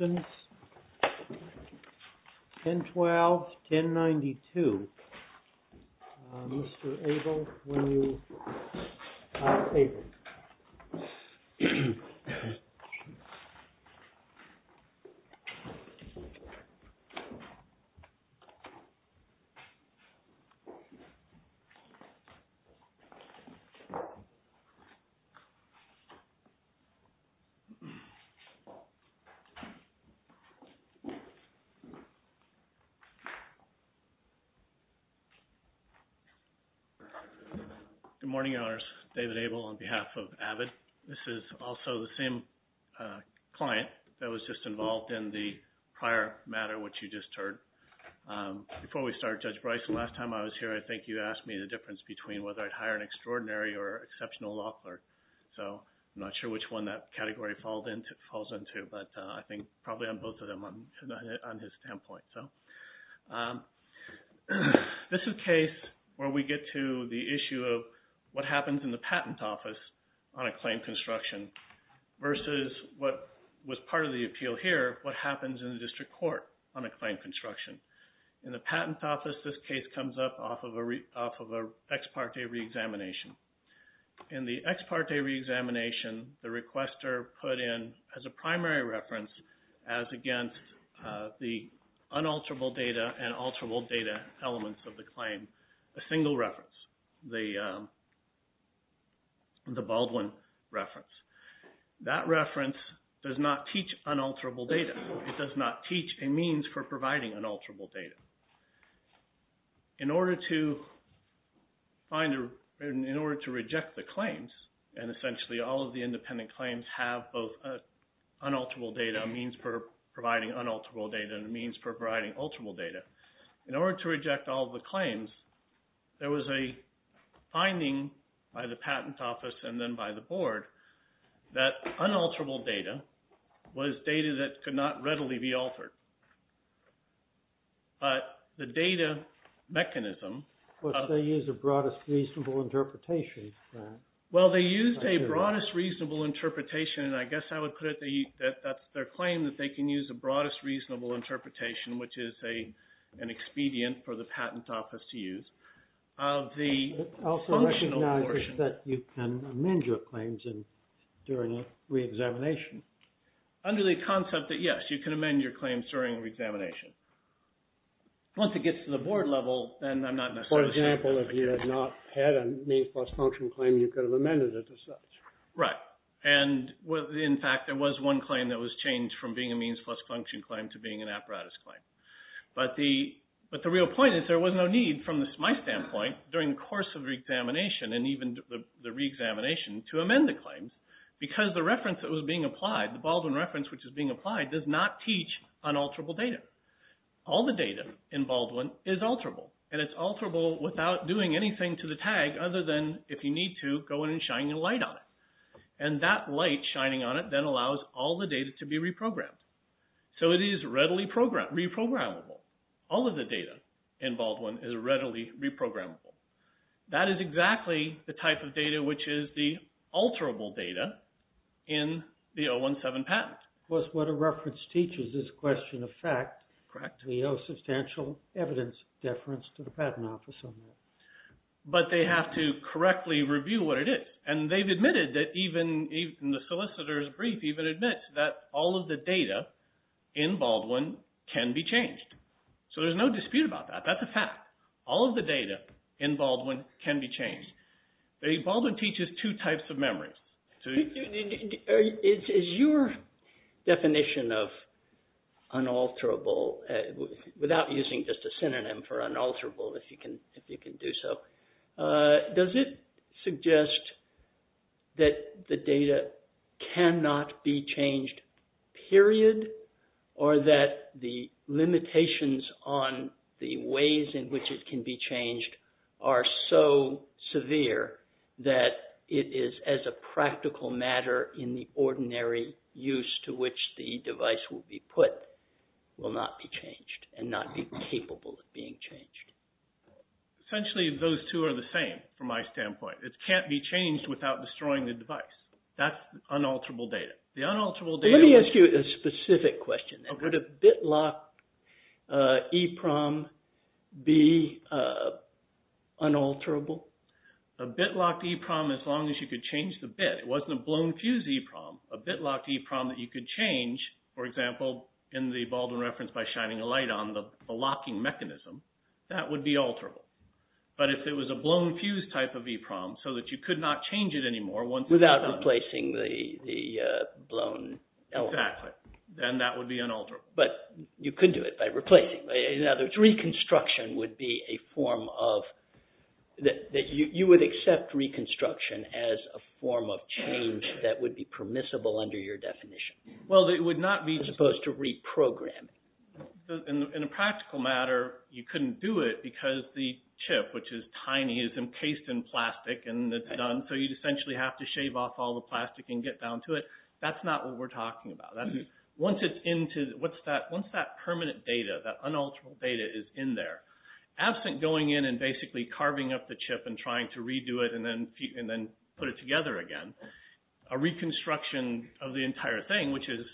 SYSTEMS, 1012-1092, Mr. Abel, when you, ah, Abel. Good morning, owners, David Abel, on behalf of the Board of Trustees, and on behalf of AVID. This is also the same, ah, client that was just involved in the prior matter, which you just heard. Um, before we start, Judge Bryce, the last time I was here, I think you asked me the difference between whether I'd hire an extraordinary or exceptional law clerk, so I'm not sure which one that category falls into, but, ah, I think probably I'm both of them on, ah, on his standpoint, so, um, this is a case where we get to the issue of what happens in the patent office on a claim construction versus what was part of the appeal here, what happens in the district court on a claim construction. In the patent office, this case comes up off of a re, off of a ex parte re-examination. In the ex parte re-examination, the requester put in as a primary reference as against, ah, the unalterable data and alterable data elements of the claim, a single reference. The, um, the Baldwin reference. That reference does not teach unalterable data. It does not teach a means for providing unalterable data. In order to find a, in order to reject the claims, and essentially all of the independent claims have both unalterable data, a means for providing unalterable data, and a means for providing alterable data. In order to reject all of the claims, there was a finding by the patent office and then by the board that unalterable data was data that could not readily be altered. But the data mechanism... But they use a broadest reasonable interpretation, right? Well, they used a broadest reasonable interpretation, and I guess I would put it, they, that, that's their claim that they can use a broadest reasonable interpretation, which is a, an expedient for the patent office to use. Of the... Also, I recognize that you can amend your claims in, during a re-examination. Under the concept that, yes, you can amend your claims during a re-examination. Once it gets to the board level, then I'm not necessarily... For example, if you had not had a means plus function claim, you could have amended it as such. Right. And with, in fact, there was one claim that was changed from being a means plus function claim to being an apparatus claim. But the, but the real point is there was no need from my standpoint during the course of re-examination and even the re-examination to amend the claims because the reference that was being applied, the Baldwin reference which is being applied, does not teach unalterable data. All the data in Baldwin is alterable, and it's alterable without doing anything to the tag other than, if you need to, go in and shine a light on it. And that light shining on it then allows all the data to be reprogrammed. So it is readily reprogrammable. All of the data in Baldwin is readily reprogrammable. That is exactly the type of data which is the alterable data in the 017 patent. Plus what a reference teaches is question of fact. Correct. We owe substantial evidence deference to the Patent Office on that. But they have to correctly review what it is. And they've admitted that even, even the solicitor's brief even admits that all of the data in Baldwin can be changed. So there's no dispute about that. That's a fact. All of the data in Baldwin can be changed. Baldwin teaches two types of memories. Is your definition of unalterable, without using just a synonym for unalterable if you can do so, does it suggest that the data cannot be changed, period, or that the limitations on the ways in which it can be changed are so severe that it is as a practical matter in the ordinary use to which the device will be put will not be changed and not be capable of being changed? Essentially, those two are the same from my standpoint. It can't be changed without destroying the device. That's unalterable data. The unalterable data... Let me ask you a specific question. Would a bitlock EEPROM be unalterable? A bitlock EEPROM as long as you could change the bit. It wasn't a blown fuse EEPROM. A bitlock EEPROM that you could change, for example, in the Baldwin reference by shining a light on the locking mechanism, that would be alterable. But if it was a blown fuse type of EEPROM so that you could not change it anymore once it's done... Without replacing the blown element. Exactly. Then that would be unalterable. But you could do it by replacing. In other words, reconstruction would be a form of... You would accept reconstruction as a form of change that would be permissible under your definition. Well, it would not be... As opposed to reprogramming. In a practical matter, you couldn't do it because the chip, which is tiny, is encased in plastic and it's done. So you'd essentially have to shave off all the plastic and get down to it. That's not what we're talking about. Once that permanent data, that unalterable data is in there, absent going in and basically carving up the chip and trying to redo it and then put it together again, a reconstruction of the entire thing, which is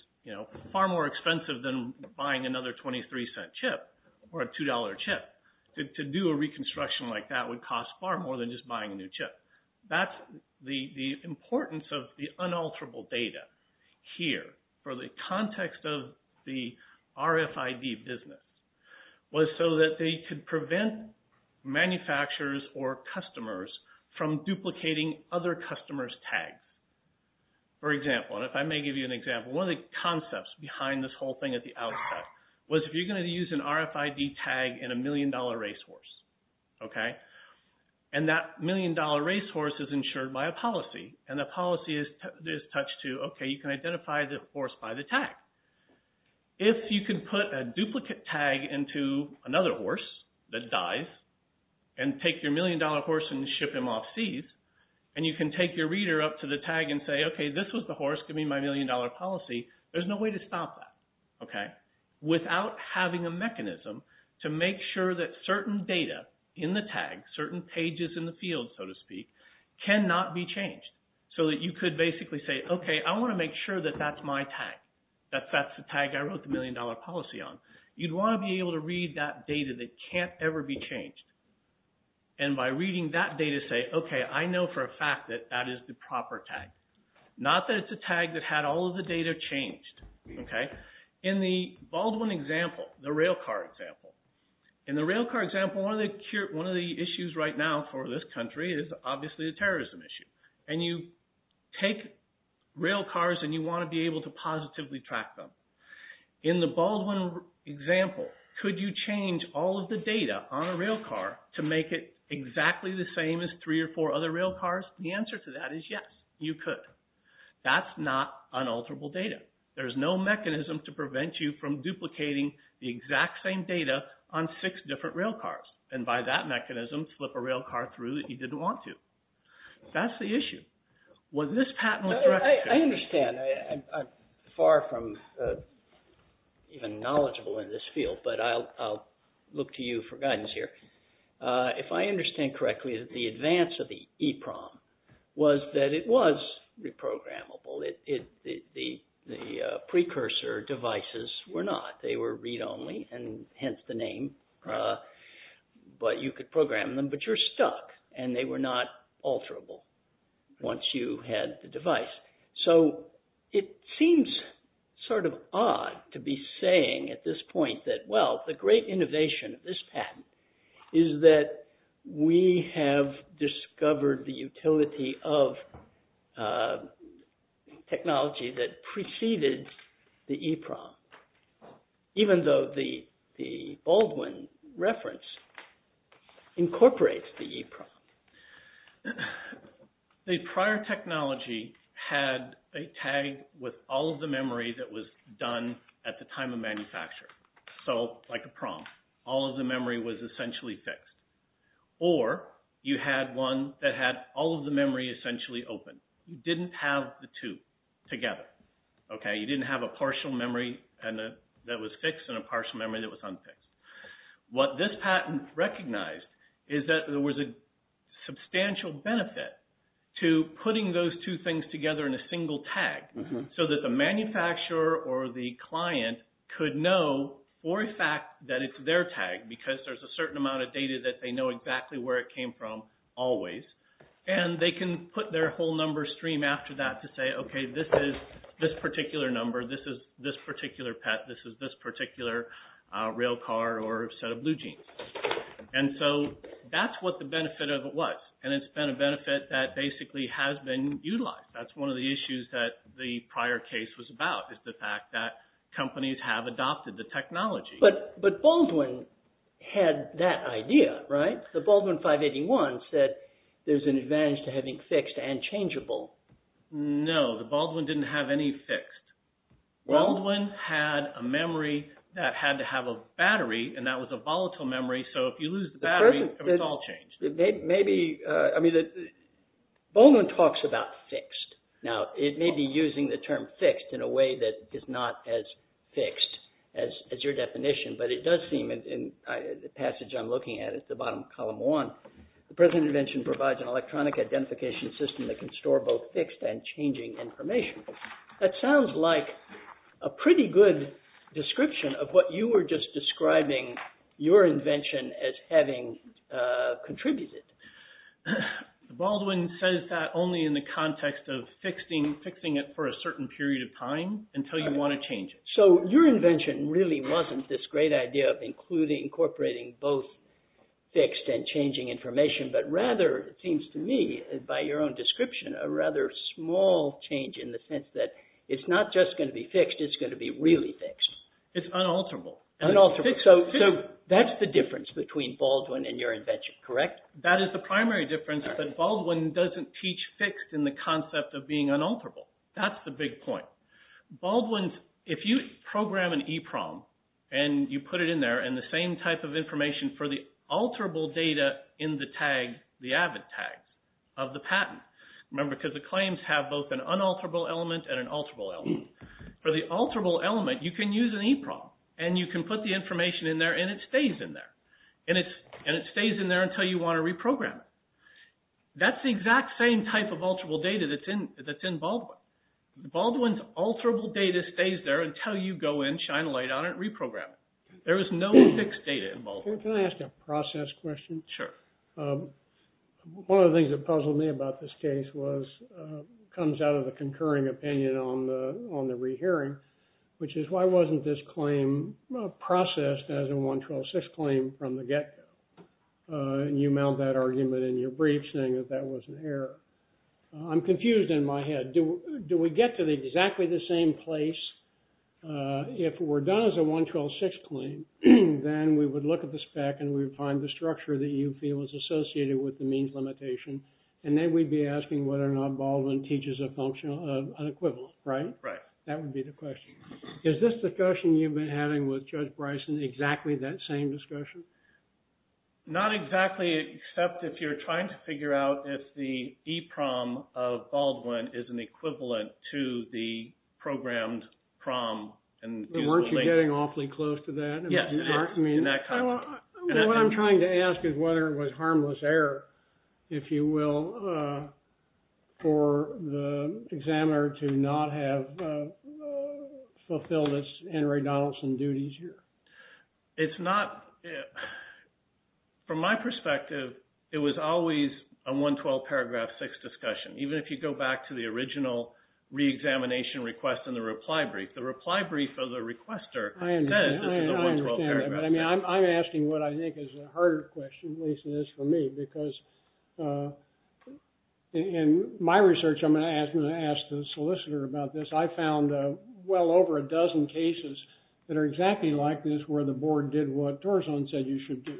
far more expensive than buying another $0.23 chip or a $2 chip. To do a reconstruction like that would cost far more than just buying a new chip. That's the importance of the unalterable data here for the context of the RFID business was so that they could prevent manufacturers or customers from duplicating other customers' tags. For example, and if I may give you an example, one of the concepts behind this whole thing at the outset was, if you're going to use an RFID tag in a million-dollar racehorse, and that million-dollar racehorse is insured by a policy, and the policy is touched to, okay, you can identify the horse by the tag. If you can put a duplicate tag into another horse that dies and take your million-dollar horse and ship him off seas, and you can take your reader up to the tag and say, okay, this was the horse giving me my million-dollar policy, there's no way to stop that, okay, without having a mechanism to make sure that certain data in the tag, certain pages in the field, so to speak, cannot be changed so that you could basically say, okay, I want to make sure that that's my tag, that that's the tag I wrote the million-dollar policy on. You'd want to be able to read that data that can't ever be changed. And by reading that data, say, okay, I know for a fact that that is the proper tag. Not that it's a tag that had all of the data changed, okay? In the Baldwin example, the railcar example, in the railcar example, one of the issues right now for this country is obviously a terrorism issue. And you take railcars and you want to be able to positively track them. In the Baldwin example, could you change all of the data on a railcar to make it exactly the same as three or four other railcars? The answer to that is yes, you could. That's not unalterable data. There's no mechanism to prevent you from duplicating the exact same data on six different railcars, and by that mechanism, flip a railcar through that you didn't want to. That's the issue. Was this patentless direction? I understand. I'm far from even knowledgeable in this field, but I'll look to you for guidance here. If I understand correctly, the advance of the EPROM was that it was reprogrammable. The precursor devices were not. They were read-only, and hence the name. But you could program them, but you're stuck, and they were not alterable once you had the It seems sort of odd to be saying at this point that, well, the great innovation of this patent is that we have discovered the utility of technology that preceded the EPROM, even though the Baldwin reference incorporates the EPROM. The prior technology had a tag with all of the memory that was done at the time of manufacture, so like a prompt. All of the memory was essentially fixed, or you had one that had all of the memory essentially open. You didn't have the two together, okay? You didn't have a partial memory that was fixed and a partial memory that was unfixed. What this patent recognized is that there was a substantial benefit to putting those two things together in a single tag so that the manufacturer or the client could know for a fact that it's their tag because there's a certain amount of data that they know exactly where it came from always, and they can put their whole number stream after that to say, okay, this is this particular number. This is this particular pet. This is this particular rail car or set of blue jeans. And so that's what the benefit of it was, and it's been a benefit that basically has been utilized. That's one of the issues that the prior case was about is the fact that companies have adopted the technology. But Baldwin had that idea, right? The Baldwin 581 said there's an advantage to having fixed and changeable. No, the Baldwin didn't have any fixed. Baldwin had a memory that had to have a battery, and that was a volatile memory. So if you lose the battery, it was all changed. The person, maybe, I mean, Baldwin talks about fixed. Now, it may be using the term fixed in a way that is not as fixed as your definition, but it does seem in the passage I'm looking at at the bottom of column one, the present intervention provides an electronic identification system that can store both fixed and changing information. That sounds like a pretty good description of what you were just describing your invention as having contributed. Baldwin says that only in the context of fixing it for a certain period of time until you want to change it. So your invention really wasn't this great idea of incorporating both fixed and changing information, but rather, it seems to me, by your own description, a rather small change in the sense that it's not just going to be fixed, it's going to be really fixed. It's unalterable. Unalterable. So that's the difference between Baldwin and your invention, correct? That is the primary difference, but Baldwin doesn't teach fixed in the concept of being unalterable. That's the big point. Baldwin, if you program an EEPROM, and you put it in there, and the same type of information for the alterable data in the tag, the AVID tag of the patent, remember, because the claims have both an unalterable element and an alterable element. For the alterable element, you can use an EEPROM, and you can put the information in there, and it stays in there, and it stays in there until you want to reprogram it. That's the exact same type of alterable data that's in Baldwin. Baldwin's alterable data stays there until you go in, shine a light on it, reprogram it. There is no fixed data in Baldwin. Can I ask a process question? Sure. One of the things that puzzled me about this case was, comes out of the concurring opinion on the rehearing, which is why wasn't this claim processed as a 112.6 claim from the get-go? You mount that argument in your brief, saying that that was an error. I'm confused in my head. Do we get to exactly the same place? If we're done as a 112.6 claim, then we would look at the spec, and we would find the structure that you feel is associated with the means limitation, and then we'd be asking whether or not Baldwin teaches an equivalent, right? Right. That would be the question. Is this discussion you've been having with Judge Bryson exactly that same discussion? Not exactly, except if you're trying to figure out if the EEPROM of Baldwin is an equivalent to the programmed PROM. Weren't you getting awfully close to that? Yes. I mean, what I'm trying to ask is whether it was harmless error, if you will, for the examiner to not have fulfilled its Henry Donaldson duties here. It's not. From my perspective, it was always a 112.6 discussion, even if you go back to the original re-examination request in the reply brief. The reply brief of the requester says this is a 112.6 paragraph. I mean, I'm asking what I think is a harder question, at least it is for me, because in my research, I'm going to ask the solicitor about this. I found well over a dozen cases that are exactly like this, where the board did what Torzon said you should do.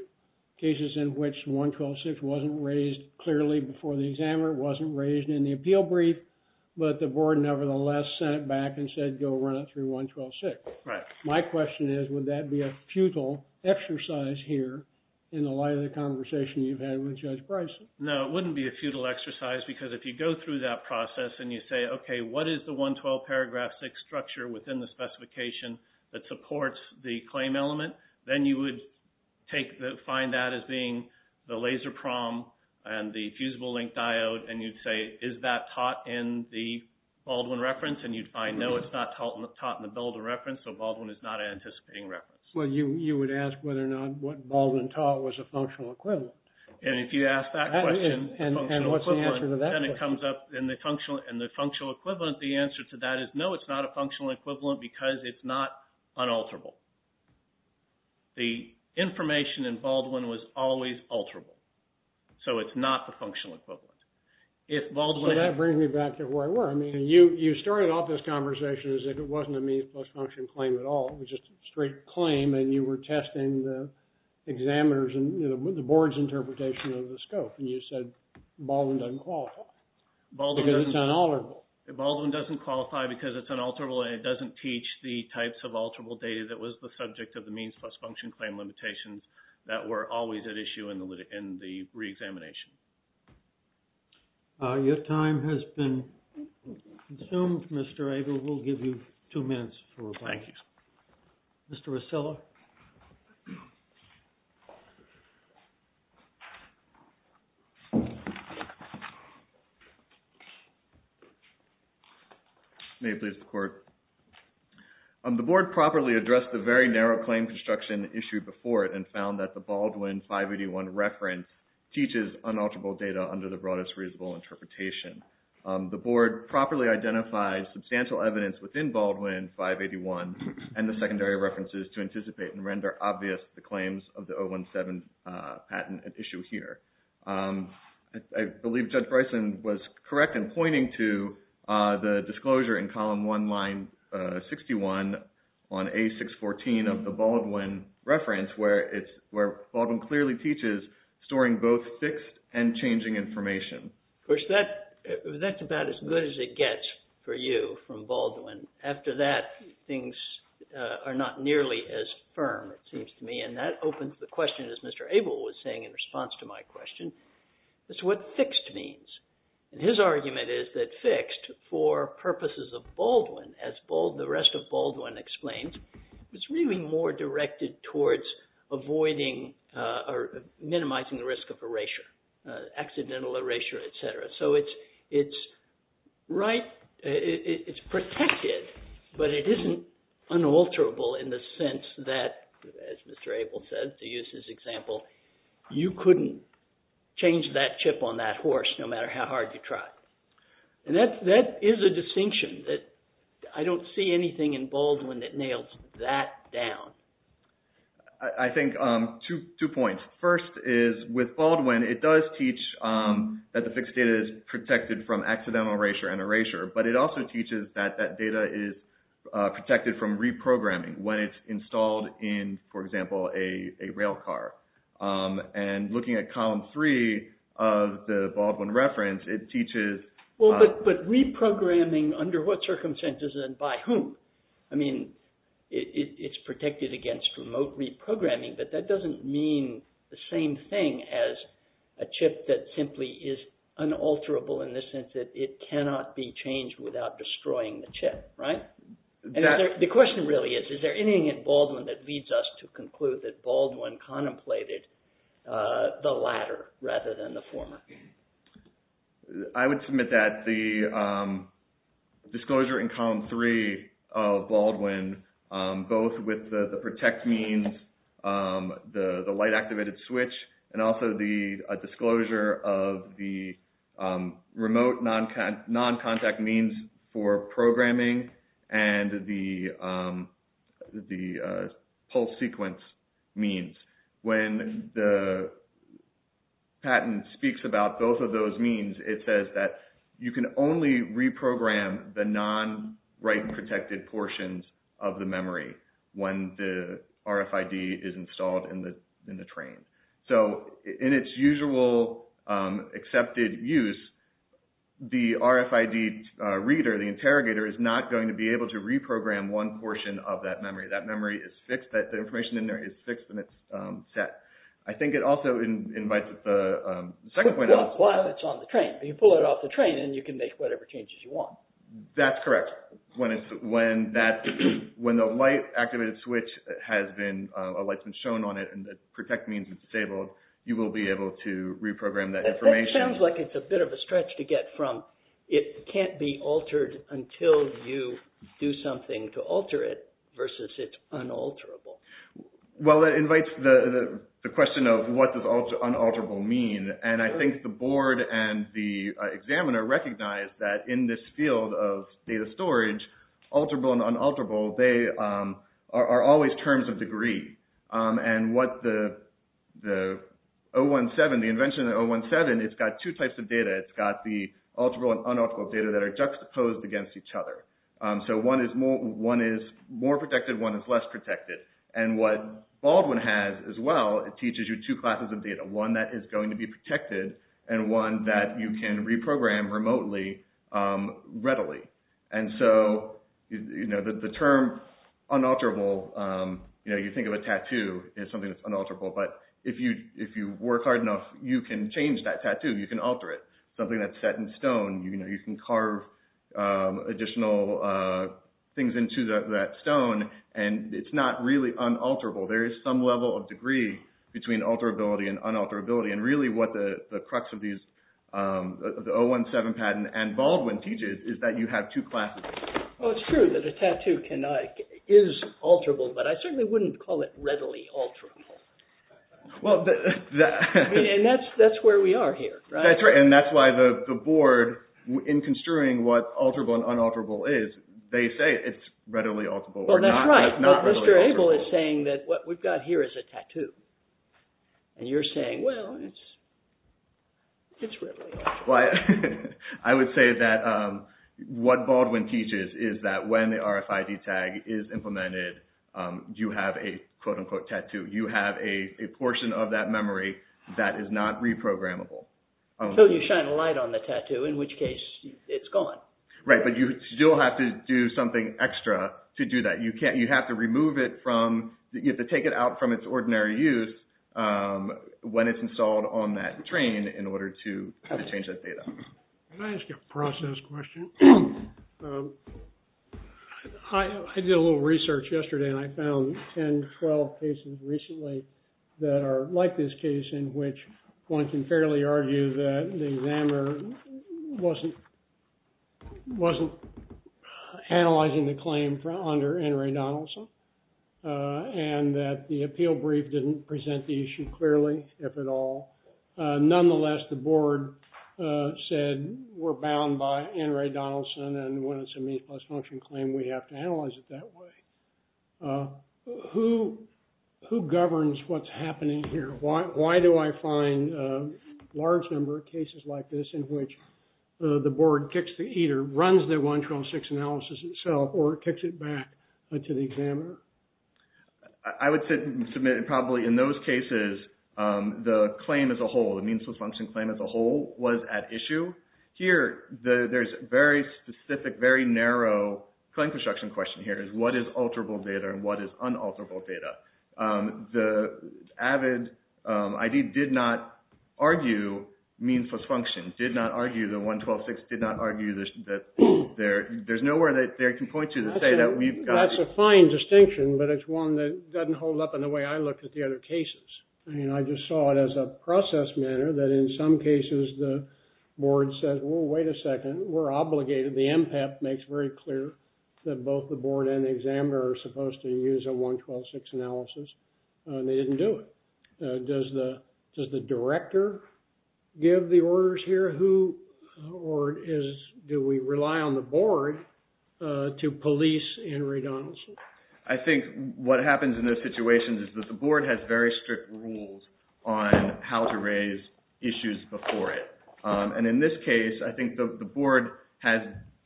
Cases in which 112.6 wasn't raised clearly before the examiner, wasn't raised in the My question is, would that be a futile exercise here in the light of the conversation you've had with Judge Bryson? No, it wouldn't be a futile exercise, because if you go through that process and you say, OK, what is the 112 paragraph 6 structure within the specification that supports the claim element, then you would find that as being the laser PROM and the fusible link diode. And you'd say, is that taught in the Baldwin reference? I know it's not taught in the builder reference, so Baldwin is not an anticipating reference. Well, you would ask whether or not what Baldwin taught was a functional equivalent. And if you ask that question, then it comes up in the functional equivalent. The answer to that is no, it's not a functional equivalent, because it's not unalterable. The information in Baldwin was always alterable. So it's not the functional equivalent. So that brings me back to where I were. I mean, you started off this conversation as if it wasn't a means plus function claim at all. It was just a straight claim, and you were testing the examiners and the board's interpretation of the scope. And you said Baldwin doesn't qualify, because it's unalterable. Baldwin doesn't qualify because it's unalterable, and it doesn't teach the types of alterable data that was the subject of the means plus function claim limitations that were always at issue in the reexamination. Your time has been consumed, Mr. Abel. We'll give you two minutes for a break. Thank you, sir. Mr. Rosillo. May it please the court. The board properly addressed the very narrow claim construction issue before it and found that the Baldwin 581 reference teaches unalterable data under the broadest reasonable interpretation. The board properly identified substantial evidence within Baldwin 581 and the secondary references to anticipate and render obvious the claims of the 017 patent at issue here. I believe Judge Bryson was correct in pointing to the disclosure in column 1, line 61 on page 614 of the Baldwin reference, where Baldwin clearly teaches storing both fixed and changing information. Of course, that's about as good as it gets for you from Baldwin. After that, things are not nearly as firm, it seems to me. And that opens the question, as Mr. Abel was saying in response to my question, as to what fixed means. And his argument is that fixed, for purposes of Baldwin, as the rest of Baldwin explains, is really more directed towards avoiding or minimizing the risk of erasure, accidental erasure, et cetera. So it's protected, but it isn't unalterable in the sense that, as Mr. Abel said, to use his example, you couldn't change that chip on that horse no matter how hard you tried. And that is a distinction that I don't see anything in Baldwin that nails that down. I think two points. First is, with Baldwin, it does teach that the fixed data is protected from accidental erasure and erasure, but it also teaches that that data is protected from reprogramming when it's installed in, for example, a rail car. And looking at column three of the Baldwin reference, it teaches... Well, but reprogramming, under what circumstances and by whom? I mean, it's protected against remote reprogramming, but that doesn't mean the same thing as a chip that simply is unalterable in the sense that it cannot be changed without destroying the chip, right? The question really is, is there anything in Baldwin that leads us to conclude that Baldwin contemplated the latter rather than the former? I would submit that the disclosure in column three of Baldwin, both with the protect means, the light-activated switch, and also the disclosure of the remote non-contact means for programming and the pulse sequence means. When the patent speaks about both of those means, it says that you can only reprogram the non-write-protected portions of the memory when the RFID is installed in the train. So in its usual accepted use, the RFID reader, the interrogator, is not going to be able to reprogram one portion of that memory. That memory is fixed. The information in there is fixed and it's set. I think it also invites the second point... While it's on the train. You pull it off the train and you can make whatever changes you want. That's correct. When the light-activated switch has been shown on it and the protect means is disabled, you will be able to reprogram that information. That sounds like it's a bit of a stretch to get from it can't be altered until you do something to alter it versus it's unalterable. Well, that invites the question of what does unalterable mean? And I think the board and the examiner recognize that in this field of data storage, alterable and unalterable, they are always terms of degree. And what the 017, the invention of 017, it's got two types of data. It's got the alterable and unalterable data that are juxtaposed against each other. So one is more protected, one is less protected. And what Baldwin has as well, it teaches you two classes of data. One that is going to be protected and one that you can reprogram remotely readily. And so the term unalterable, you think of a tattoo as something that's unalterable, but if you work hard enough, you can change that tattoo. You can alter it. Something that's set in stone, you can carve additional things into that stone and it's not really unalterable. There is some level of degree between alterability and unalterability. And really what the crux of the 017 patent and Baldwin teaches is that you have two classes. Well, it's true that a tattoo is alterable, but I certainly wouldn't call it readily alterable. Well, that's where we are here, right? That's right. And that's why the board, in construing what alterable and unalterable is, they say it's readily alterable. That's right, but Mr. Abel is saying that what we've got here is a tattoo. And you're saying, well, it's readily alterable. I would say that what Baldwin teaches is that when the RFID tag is implemented, you have a quote unquote tattoo. You have a portion of that memory that is not reprogrammable. So you shine a light on the tattoo, in which case it's gone. Right, but you still have to do something extra to do that. You have to remove it from, you have to take it out from its ordinary use when it's installed on that train in order to change that data. Can I ask you a process question? I did a little research yesterday, and I found 10, 12 cases recently that are like this case, in which one can fairly argue that the examiner wasn't analyzing the claim under Ann Rae Donaldson, and that the appeal brief didn't present the issue clearly, if at all. Nonetheless, the board said we're bound by Ann Rae Donaldson, and when it's a means plus function claim, we have to analyze it that way. Who governs what's happening here? Why do I find a large number of cases like this in which the board kicks the eater, runs the 1-12-6 analysis itself, or kicks it back to the examiner? I would say, probably in those cases, the claim as a whole, the means plus function claim as a whole, was at issue. Here, there's very specific, very narrow claim construction question here, is what is alterable data and what is unalterable data? The AVID ID did not argue means plus function, did not argue the 1-12-6, did not argue that there's nowhere that they can point to to say that we've got... That's a fine distinction, but it's one that doesn't hold up in the way I look at the other cases. I mean, I just saw it as a process manner that in some cases, the board says, well, wait a second, we're obligated. The MPEP makes very clear that both the board and examiner are supposed to use a 1-12-6 analysis, and they didn't do it. Does the director give the orders here? Or do we rely on the board to police Henry Donaldson? I think what happens in those situations is that the board has very strict rules on how to raise issues before it. And in this case, I think the board has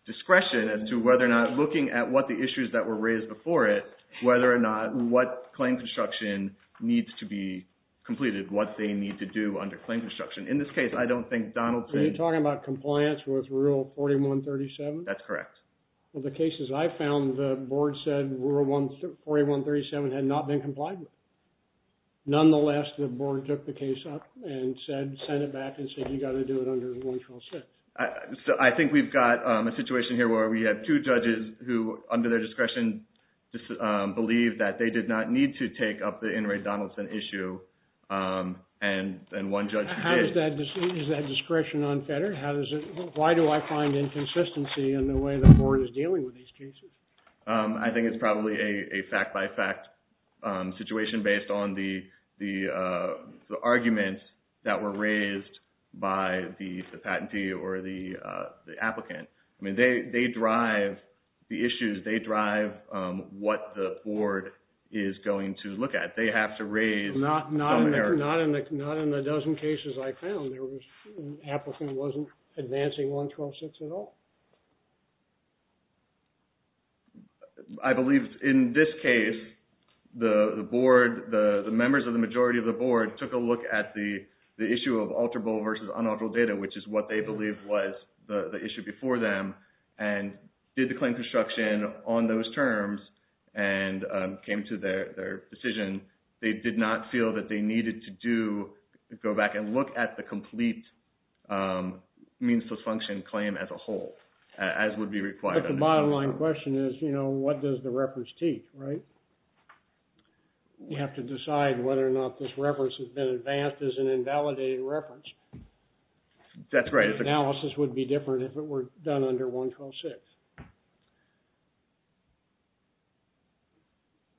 discretion as to whether or not looking at what the issues that were raised before it, what claim construction needs to be completed, what they need to do under claim construction. In this case, I don't think Donaldson... Are you talking about compliance with rule 41-37? That's correct. Well, the cases I found, the board said rule 41-37 had not been complied with. Nonetheless, the board took the case up and said, sent it back and said, you got to do it under 1-12-6. I think we've got a situation here where we have two judges who, under their discretion, believe that they did not need to take up the Henry Donaldson issue, and one judge who did. How does that... Is that discretion unfettered? Why do I find inconsistency in the way the board is dealing with these cases? I think it's probably a fact-by-fact situation based on the arguments that were raised by the patentee or the applicant. I mean, they drive the issues. They drive what the board is going to look at. They have to raise... Not in the dozen cases I found, the applicant wasn't advancing 1-12-6 at all. I believe in this case, the board, the members of the majority of the board took a look at the issue of alterable versus unalterable data, which is what they believed was the issue before them, and did the claim construction on those terms and came to their decision. They did not feel that they needed to go back and look at the complete means to function claim as a whole, as would be required. But the bottom line question is, what does the reference teach, right? You have to decide whether or not this reference has been advanced as an invalidated reference. That's right. Analysis would be different if it were done under 1-12-6.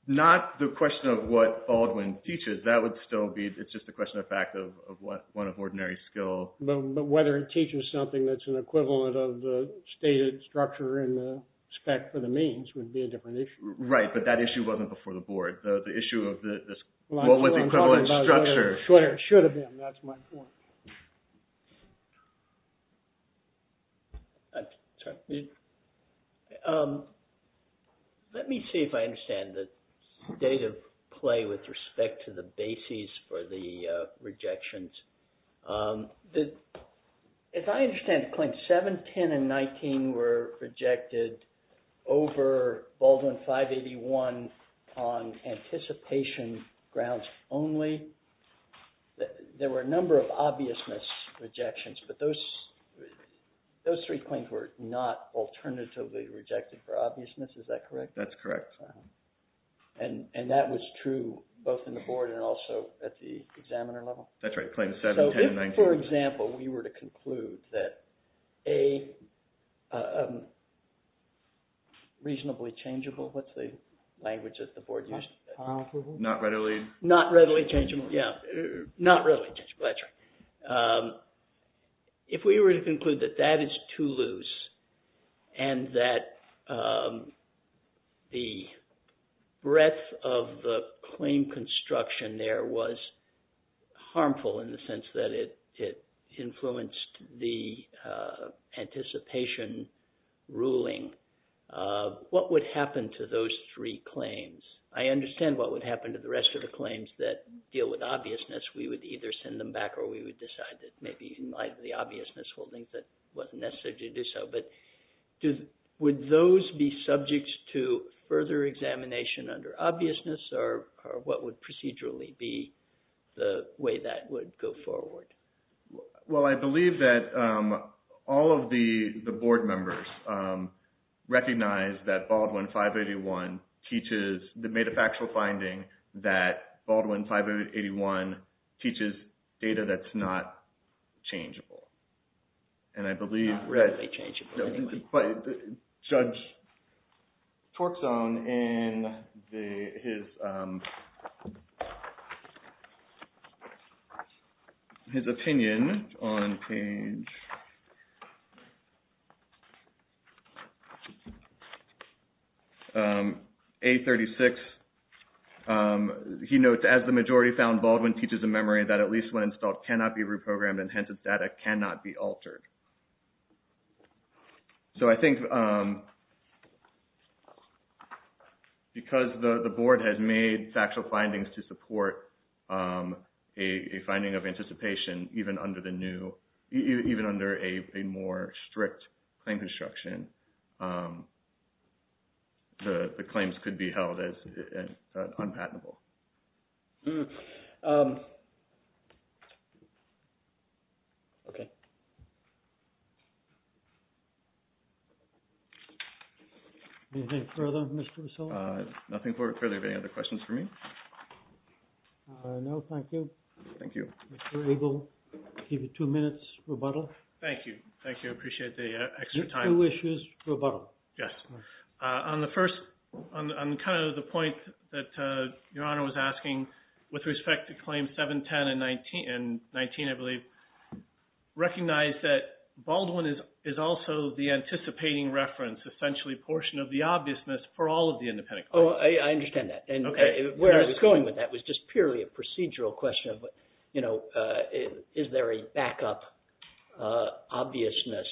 Not the question of what Baldwin teaches. That would still be... It's just a question of fact of what one of ordinary skill... But whether it teaches something that's an equivalent of the stated structure in the spec for the means would be a different issue. Right, but that issue wasn't before the board. The issue of what was the equivalent structure... Should have been, that's my point. Let me see if I understand the state of play with respect to the bases for the rejections. If I understand the claim, 7, 10, and 19 were rejected over Baldwin 581 on anticipation grounds only. There were a number of obviousness rejections, but those three claims were not alternatively rejected for obviousness. Is that correct? That's correct. And that was true both in the board and also at the examiner level. That's right, claims 7, 10, and 19. So if, for example, we were to conclude that a reasonably changeable... What's the language that the board used? Not readily... Not readily changeable, yeah. Not readily changeable, that's right. If we were to conclude that that is too loose and that the breadth of the claim construction there was harmful in the sense that it influenced the anticipation ruling, what would happen to those three claims? I understand what would happen to the rest of the claims that deal with obviousness. We would either send them back or we would decide that maybe in light of the obviousness holding that wasn't necessary to do so. But would those be subject to further examination under obviousness or what would procedurally be the way that would go forward? Well, I believe that all of the board members recognize that Baldwin 581 teaches the metafactual finding that Baldwin 581 teaches data that's not changeable. And I believe... Not readily changeable, anyway. But Judge Torczone in his opinion on page... A36, he notes as the majority found Baldwin teaches a memory that at least when installed cannot be reprogrammed and hence its data cannot be altered. So I think because the board has made factual findings to support a finding of anticipation even under a more strict claim construction, the claims could be held as unpatentable. Okay. Anything further, Mr. Russo? Nothing further. Any other questions for me? No, thank you. Thank you. Mr. Eagle, I'll give you two minutes rebuttal. Thank you. Thank you. I appreciate the extra time. Two issues rebuttal. Yes. On the first, on kind of the point that Your Honor was asking with respect to claims 710 and 19, I believe, recognize that Baldwin is also the anticipating reference, essentially portion of the obviousness for all of the independent claims. Oh, I understand that. And where I was going with that was just purely a procedural question of, is there a backup obviousness?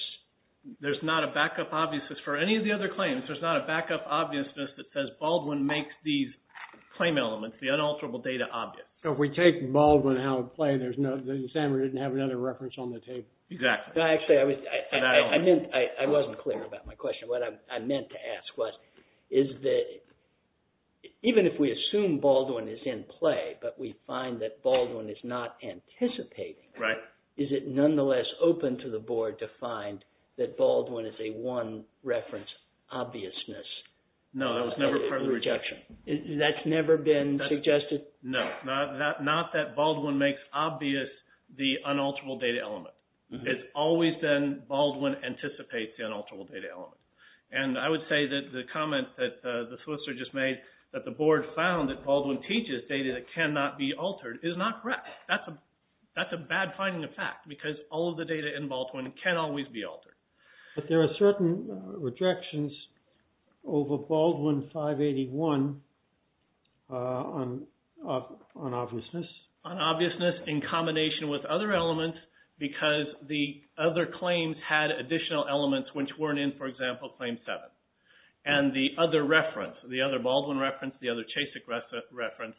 There's not a backup obviousness for any of the other claims. There's not a backup obviousness that says Baldwin makes these claim elements, the unalterable data, obvious. So if we take Baldwin out of play, there's no, the examiner didn't have another reference on the table. Exactly. Actually, I wasn't clear about my question. What I meant to ask was, is that even if we assume Baldwin is in play, but we find that Baldwin is not anticipating, is it nonetheless open to the board to find that Baldwin is a one reference obviousness? No, that was never part of the rejection. That's never been suggested? No, not that Baldwin makes obvious the unalterable data element. It's always been Baldwin anticipates the unalterable data element. And I would say that the comment that the solicitor just made, that the board found that Baldwin teaches data that cannot be altered is not correct. That's a bad finding of fact, because all of the data in Baldwin can always be altered. But there are certain rejections over Baldwin 581 on obviousness. On obviousness in combination with other elements, because the other claims had additional elements which weren't in, for example, claim seven. And the other reference, the other Baldwin reference, the other Chasik reference,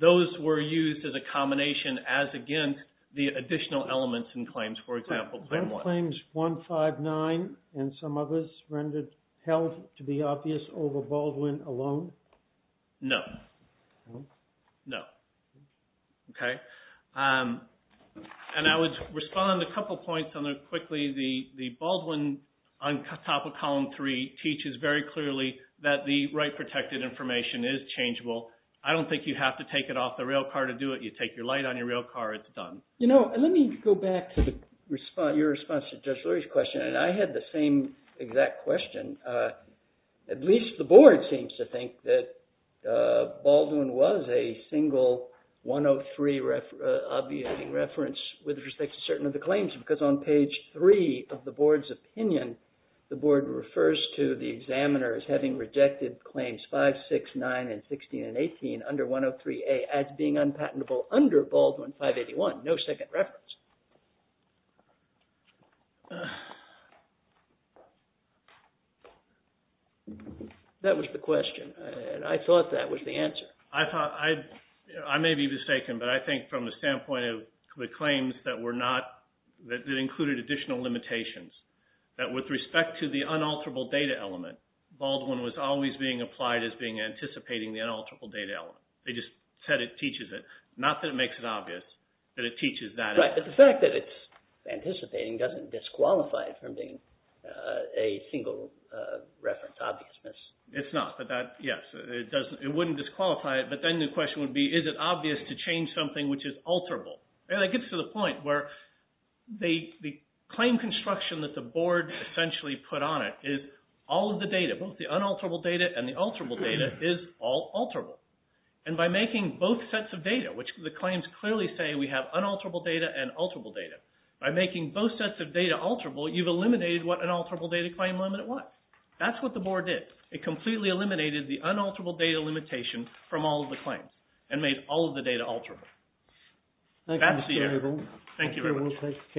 those were used as a combination as against the additional elements in claims, for example, claim one. Claims 159 and some others rendered held to be obvious over Baldwin alone? No. No. Okay. And I would respond a couple points on that quickly. The Baldwin on top of column three teaches very clearly that the right protected information is changeable. I don't think you have to take it off the rail car to do it. You take your light on your rail car, it's done. You know, let me go back to your response to Judge Lurie's question. And I had the same exact question. At least the board seems to think that Baldwin was a single 103 obvious reference with respect to certain of the claims, because on page three of the board's opinion, the board refers to the examiners having rejected claims 569 and 16 and 18 under 103A as being unpatentable under Baldwin 581, no second reference. That was the question. I thought that was the answer. I thought, I may be mistaken, but I think from the standpoint of the claims that were not, that included additional limitations, that with respect to the unalterable data element, Baldwin was always being applied as being anticipating the unalterable data element. They just said it teaches it, not that it makes it obvious, but it teaches that element. Right, but the fact that it's anticipating doesn't disqualify it from being a single reference obviousness. It's not, but that, yes, it wouldn't disqualify it, but then the question would be, is it obvious to change something which is alterable? And it gets to the point where the claim construction that the board essentially put on it is all of the data, both the unalterable data and the alterable data is all alterable. And by making both sets of data, the claims clearly say we have unalterable data and alterable data. By making both sets of data alterable, you've eliminated what an alterable data claim limit was. That's what the board did. It completely eliminated the unalterable data limitation from all of the claims and made all of the data alterable. Thank you, Mr. Abel. Thank you very much. Thank you, we'll take the case on revising.